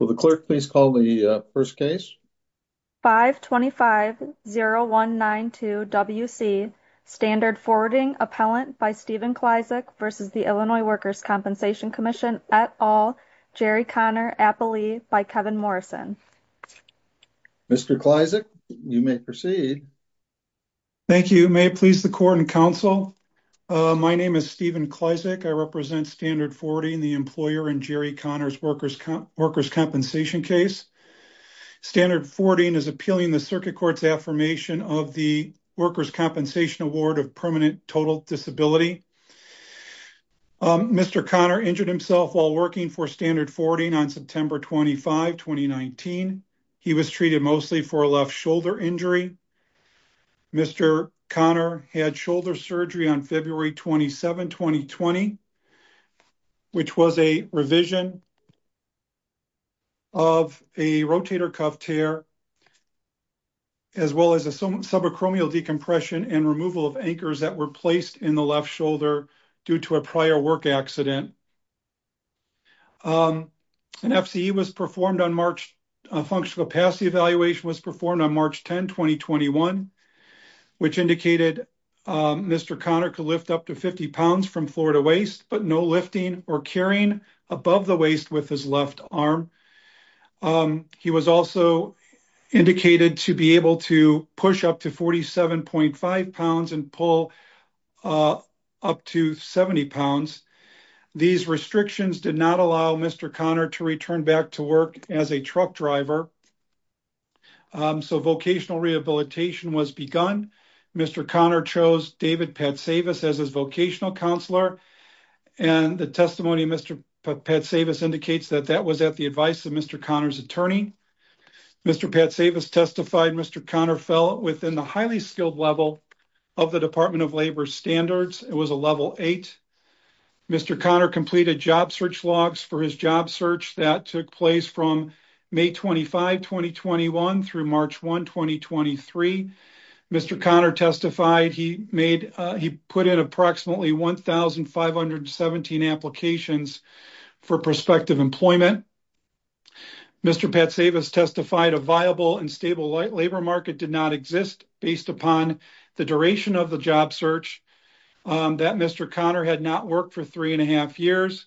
525-0192 W.C. Standard Forwarding Appellant by Stephen Klyzak v. Illinois Workers' Compensation Comm'n et al., Jerry Connor, Appalee by Kevin Morrison. Mr. Klyzak, you may proceed. Thank you. May it please the Court and Council, my name is Stephen Klyzak. I represent Standard Forwarding, the employer in Jerry Connor's Workers' Compensation case. Standard Forwarding is appealing the circuit court's affirmation of the Workers' Compensation Award of Permanent Total Disability. Mr. Connor injured himself while working for Standard Forwarding on September 25, 2019. He was treated mostly for a left shoulder injury. Mr. Connor had shoulder surgery on February 27, 2020, which was a revision of a rotator cuff tear as well as a subacromial decompression and removal of anchors that were placed in the left shoulder due to a prior work accident. An FCE was performed on March 10, 2021, which indicated Mr. Connor could lift up to 50 pounds from floor to waist, but no lifting or carrying above the waist with his left arm. He was also indicated to be able to push up to 47.5 pounds and pull up to 70 pounds. These restrictions did not allow Mr. Connor to return back to work as a truck driver, so vocational rehabilitation was begun. Mr. Connor chose David Patsavis as his vocational counselor, and the testimony of Mr. Patsavis indicates that that was at the advice of Mr. Connor's attorney. Mr. Patsavis testified Mr. Connor fell within the highly skilled level of the Department of Labor standards. It was a level eight. Mr. Connor completed job search logs for his job search that took place from May 25, 2021 through March 1, 2023. Mr. Connor testified he put in approximately 1,517 applications for prospective employment. Mr. Patsavis testified a viable and stable labor market did not exist based upon the duration of his job search, that Mr. Connor had not worked for three and a half years,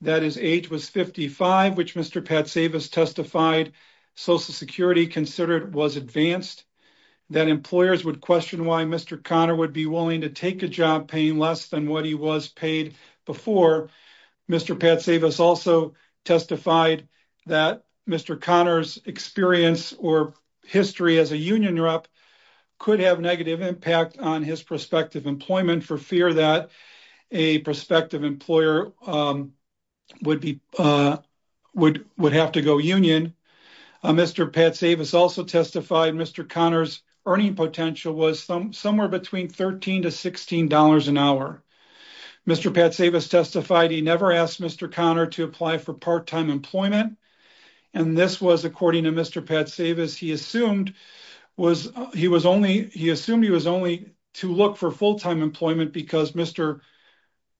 that his age was 55, which Mr. Patsavis testified Social Security considered was advanced, that employers would question why Mr. Connor would be willing to take a job paying less than what he was paid before. Mr. Patsavis also testified that Mr. Connor's experience or history as a union rep could have negative impact on his prospective employment for fear that a prospective employer would have to go union. Mr. Patsavis also testified Mr. Connor's earning potential was somewhere between $13 to $16 an hour. Mr. Patsavis testified he never asked Mr. Connor to apply for part-time employment, and this was according to Mr. Patsavis. He assumed he was only to look for full-time employment because Mr.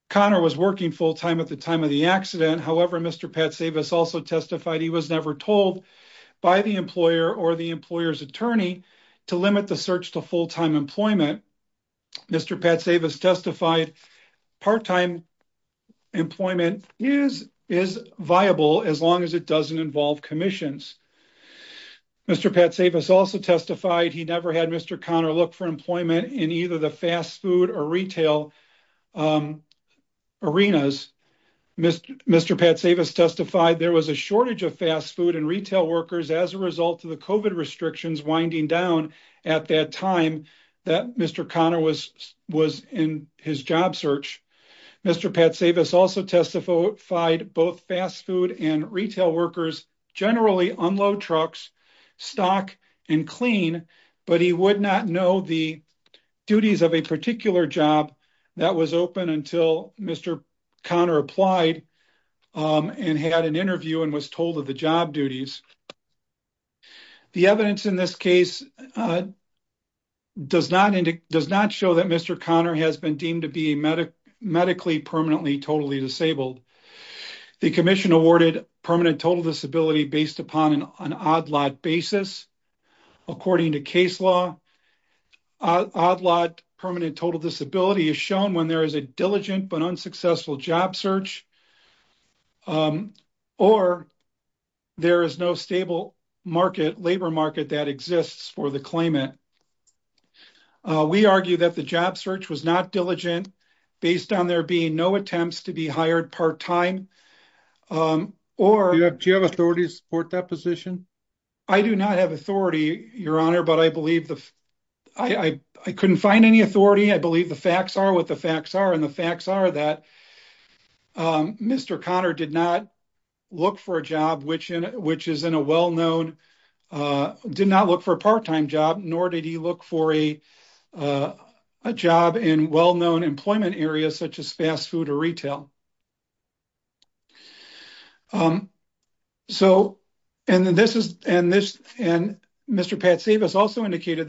Connor was working full-time at the time of the accident. However, Mr. Patsavis also testified he was never told by the employer or the employer's attorney to limit the search to full-time employment. Mr. Patsavis testified part-time employment is viable as long as it doesn't involve commissions. Mr. Patsavis also testified he never had Mr. Connor look for employment in either the fast food or retail arenas. Mr. Patsavis testified there was a shortage of fast food and retail workers as a result of the COVID restrictions winding down at that time that Mr. Connor was in his job search. Mr. Patsavis also testified both fast food and retail workers generally unload trucks, stock, and clean, but he would not know the duties of a particular job that was open until Mr. Connor applied and had an interview and was told of the job duties. The evidence in this case does not show that Mr. Connor has been deemed to be medically permanently totally disabled. The commission awarded permanent total disability based upon an odd-lot basis. According to case law, odd-lot permanent total disability is shown when there is a diligent but unsuccessful job search or there is no stable labor market that exists for the claimant. We argue that the job search was not diligent based on there being no attempts to be hired part-time. Do you have authority to support that position? I do not have authority, Your Honor, but I couldn't find any authority. I believe the facts are what the facts are, and the facts are that Mr. Connor did not look for a part-time job, nor did he look for a job in well-known there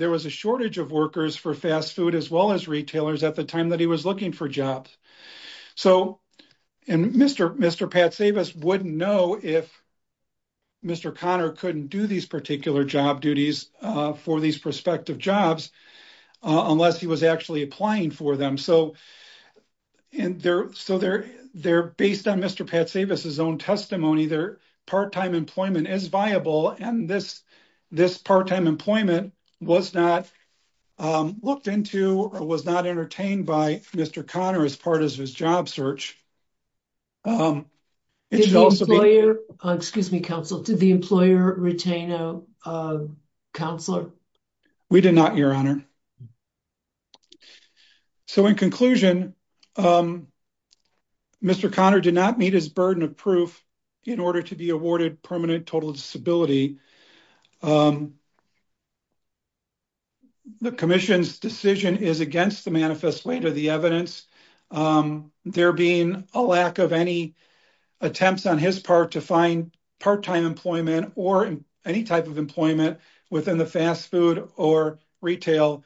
was a shortage of workers for fast food as well as retailers at the time that he was looking for jobs. Mr. Pat Savas wouldn't know if Mr. Connor couldn't do these particular job duties for these prospective jobs unless he was actually applying for them. They're based on Mr. Pat Savas' own testimony. Part-time employment is viable, and this part-time employment was not looked into or was not entertained by Mr. Connor as part of his job search. Did the employer retain a counselor? We did not, Your Honor. In conclusion, Mr. Connor did not meet his burden of proof in order to be awarded permanent total stability. The Commission's decision is against the manifesto, the evidence, there being a lack of any attempts on his part to find part-time employment or any type of employment within the fast food or retail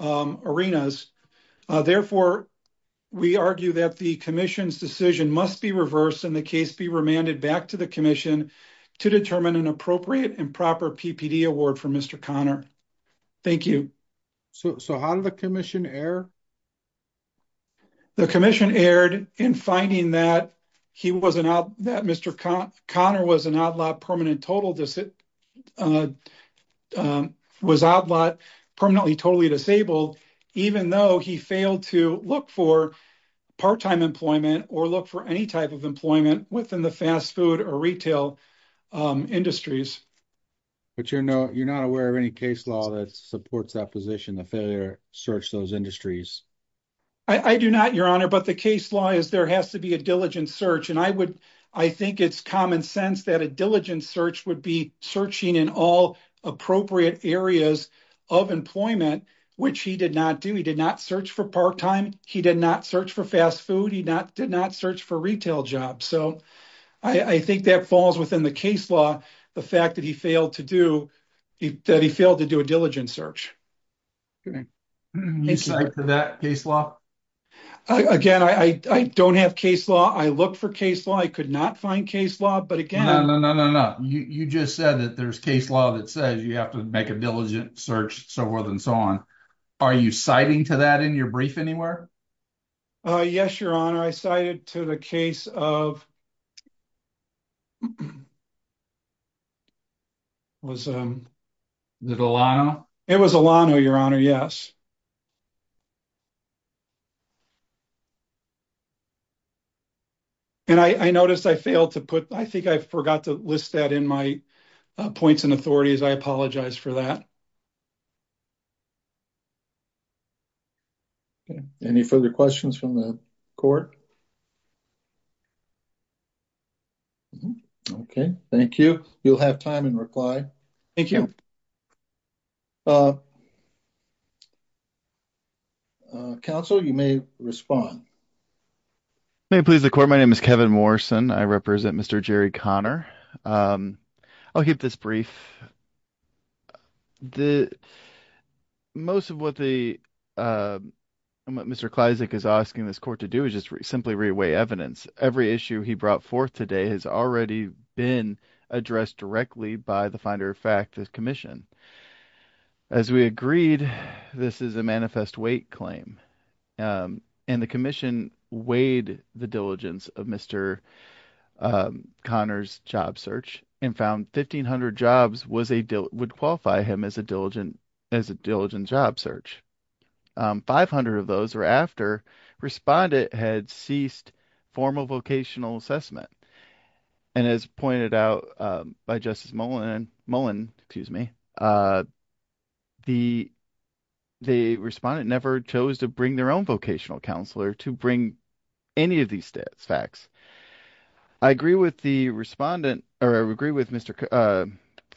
arenas. Therefore, we argue that the Commission's decision must be reversed and the case be remanded back to the Commission to determine an appropriate and proper PPD award for Mr. Connor. Thank you. So how did the Commission err? The Commission erred in finding that Mr. Connor was an outlaw permanently totally disabled, even though he failed to look for part-time employment or look for any type of employment within the fast food or retail industries. But you're not aware of any case law that supports that position, the failure to search those industries? I do not, Your Honor, but the case law is there has to be a diligent search, and I think it's common sense that a diligent search would be searching in all appropriate areas of employment, which he did not do. He did not search for part-time, he did not search for fast food, he did not search for retail jobs. So I think that falls within the case law, the fact that he failed to do a diligent search. Do you cite to that case law? Again, I don't have case law. I looked for case law. I could not find case law, but again... No, no, no, you just said that there's case law that says you have to make a diligent search, so forth and so on. Are you citing to that in your brief anywhere? Yes, Your Honor, I cited to the case of... Was it Alano? It was Alano, Your Honor, yes. And I noticed I failed to put... I think I forgot to list that in my points and authorities. I apologize for that. Okay, any further questions from the court? Okay, thank you. You'll have time in reply. Thank you. Counsel, you may respond. May it please the court, my name is Kevin Morrison. I represent Mr. Jerry Connor. I'll keep this brief. Most of what Mr. Kleizek is asking this court to do is just simply re-weigh evidence. Every issue he brought forth today has already been addressed directly by the commission. As we agreed, this is a manifest weight claim. And the commission weighed the diligence of Mr. Connor's job search and found 1,500 jobs would qualify him as a diligent job search. 500 of those were after respondent had ceased formal vocational assessment. And as pointed out by Justice Mullen, the respondent never chose to bring their own vocational counselor to bring any of these facts. I agree with Mr.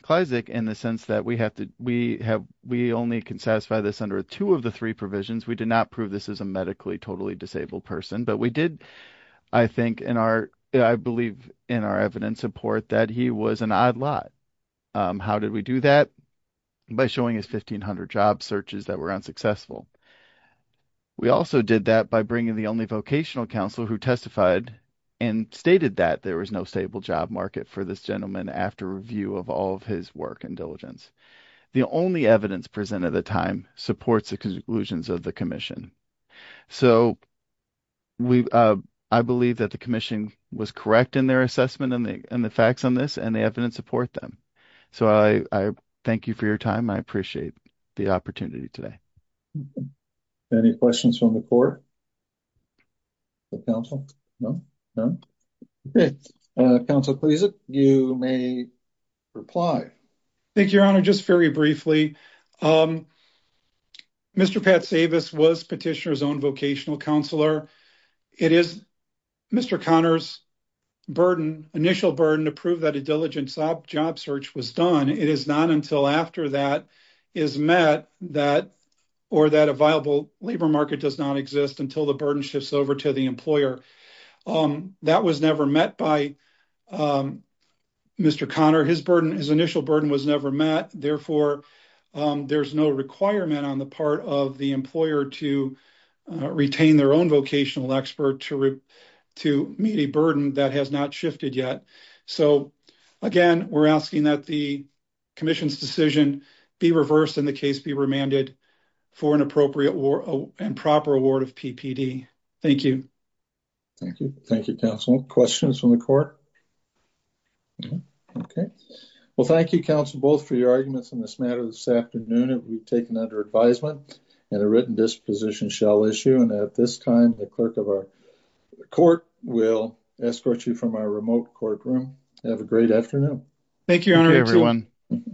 Kleizek in the sense that we only can satisfy this under two of the three provisions. We did not prove this as a medically totally disabled person, but we did, I believe in our evidence support that he was an odd lot. How did we do that? By showing his 1,500 job searches that were unsuccessful. We also did that by bringing the only vocational counselor who testified and stated that there was no stable job market for this gentleman after review of all of his work and diligence. The only evidence presented at the time supports the conclusions of the commission. So, I believe that the commission was correct in their assessment and the facts on this and the evidence support them. So, I thank you for your time. I appreciate the opportunity today. Any questions from the court? The council? No? No? Okay. Councilor Kleizek, you may reply. Thank you, Your Honor. Just very briefly, Mr. Pat Savas was Petitioner's own vocational counselor. It is Mr. Conner's initial burden to prove that a diligent job search was done. It is not until after that is met or that a viable labor market does not exist until the burden shifts over to the employer. That was never met by Mr. Conner. His initial burden was never met. Therefore, there is no requirement on the part of the employer to retain their own vocational expert to meet a burden that has not shifted yet. Again, we are asking that the commission's decision be reversed and the case be remanded for an appropriate and proper award of PPD. Thank you. Thank you. Thank you, Councilor. Questions from the court? Okay. Well, thank you, Council, both for your arguments on this matter this afternoon. It will be taken under advisement and a written disposition shall issue. And at this time, the clerk of our court will escort you from our remote courtroom. Have a great afternoon. Thank you, Your Honor. Thank you, everyone.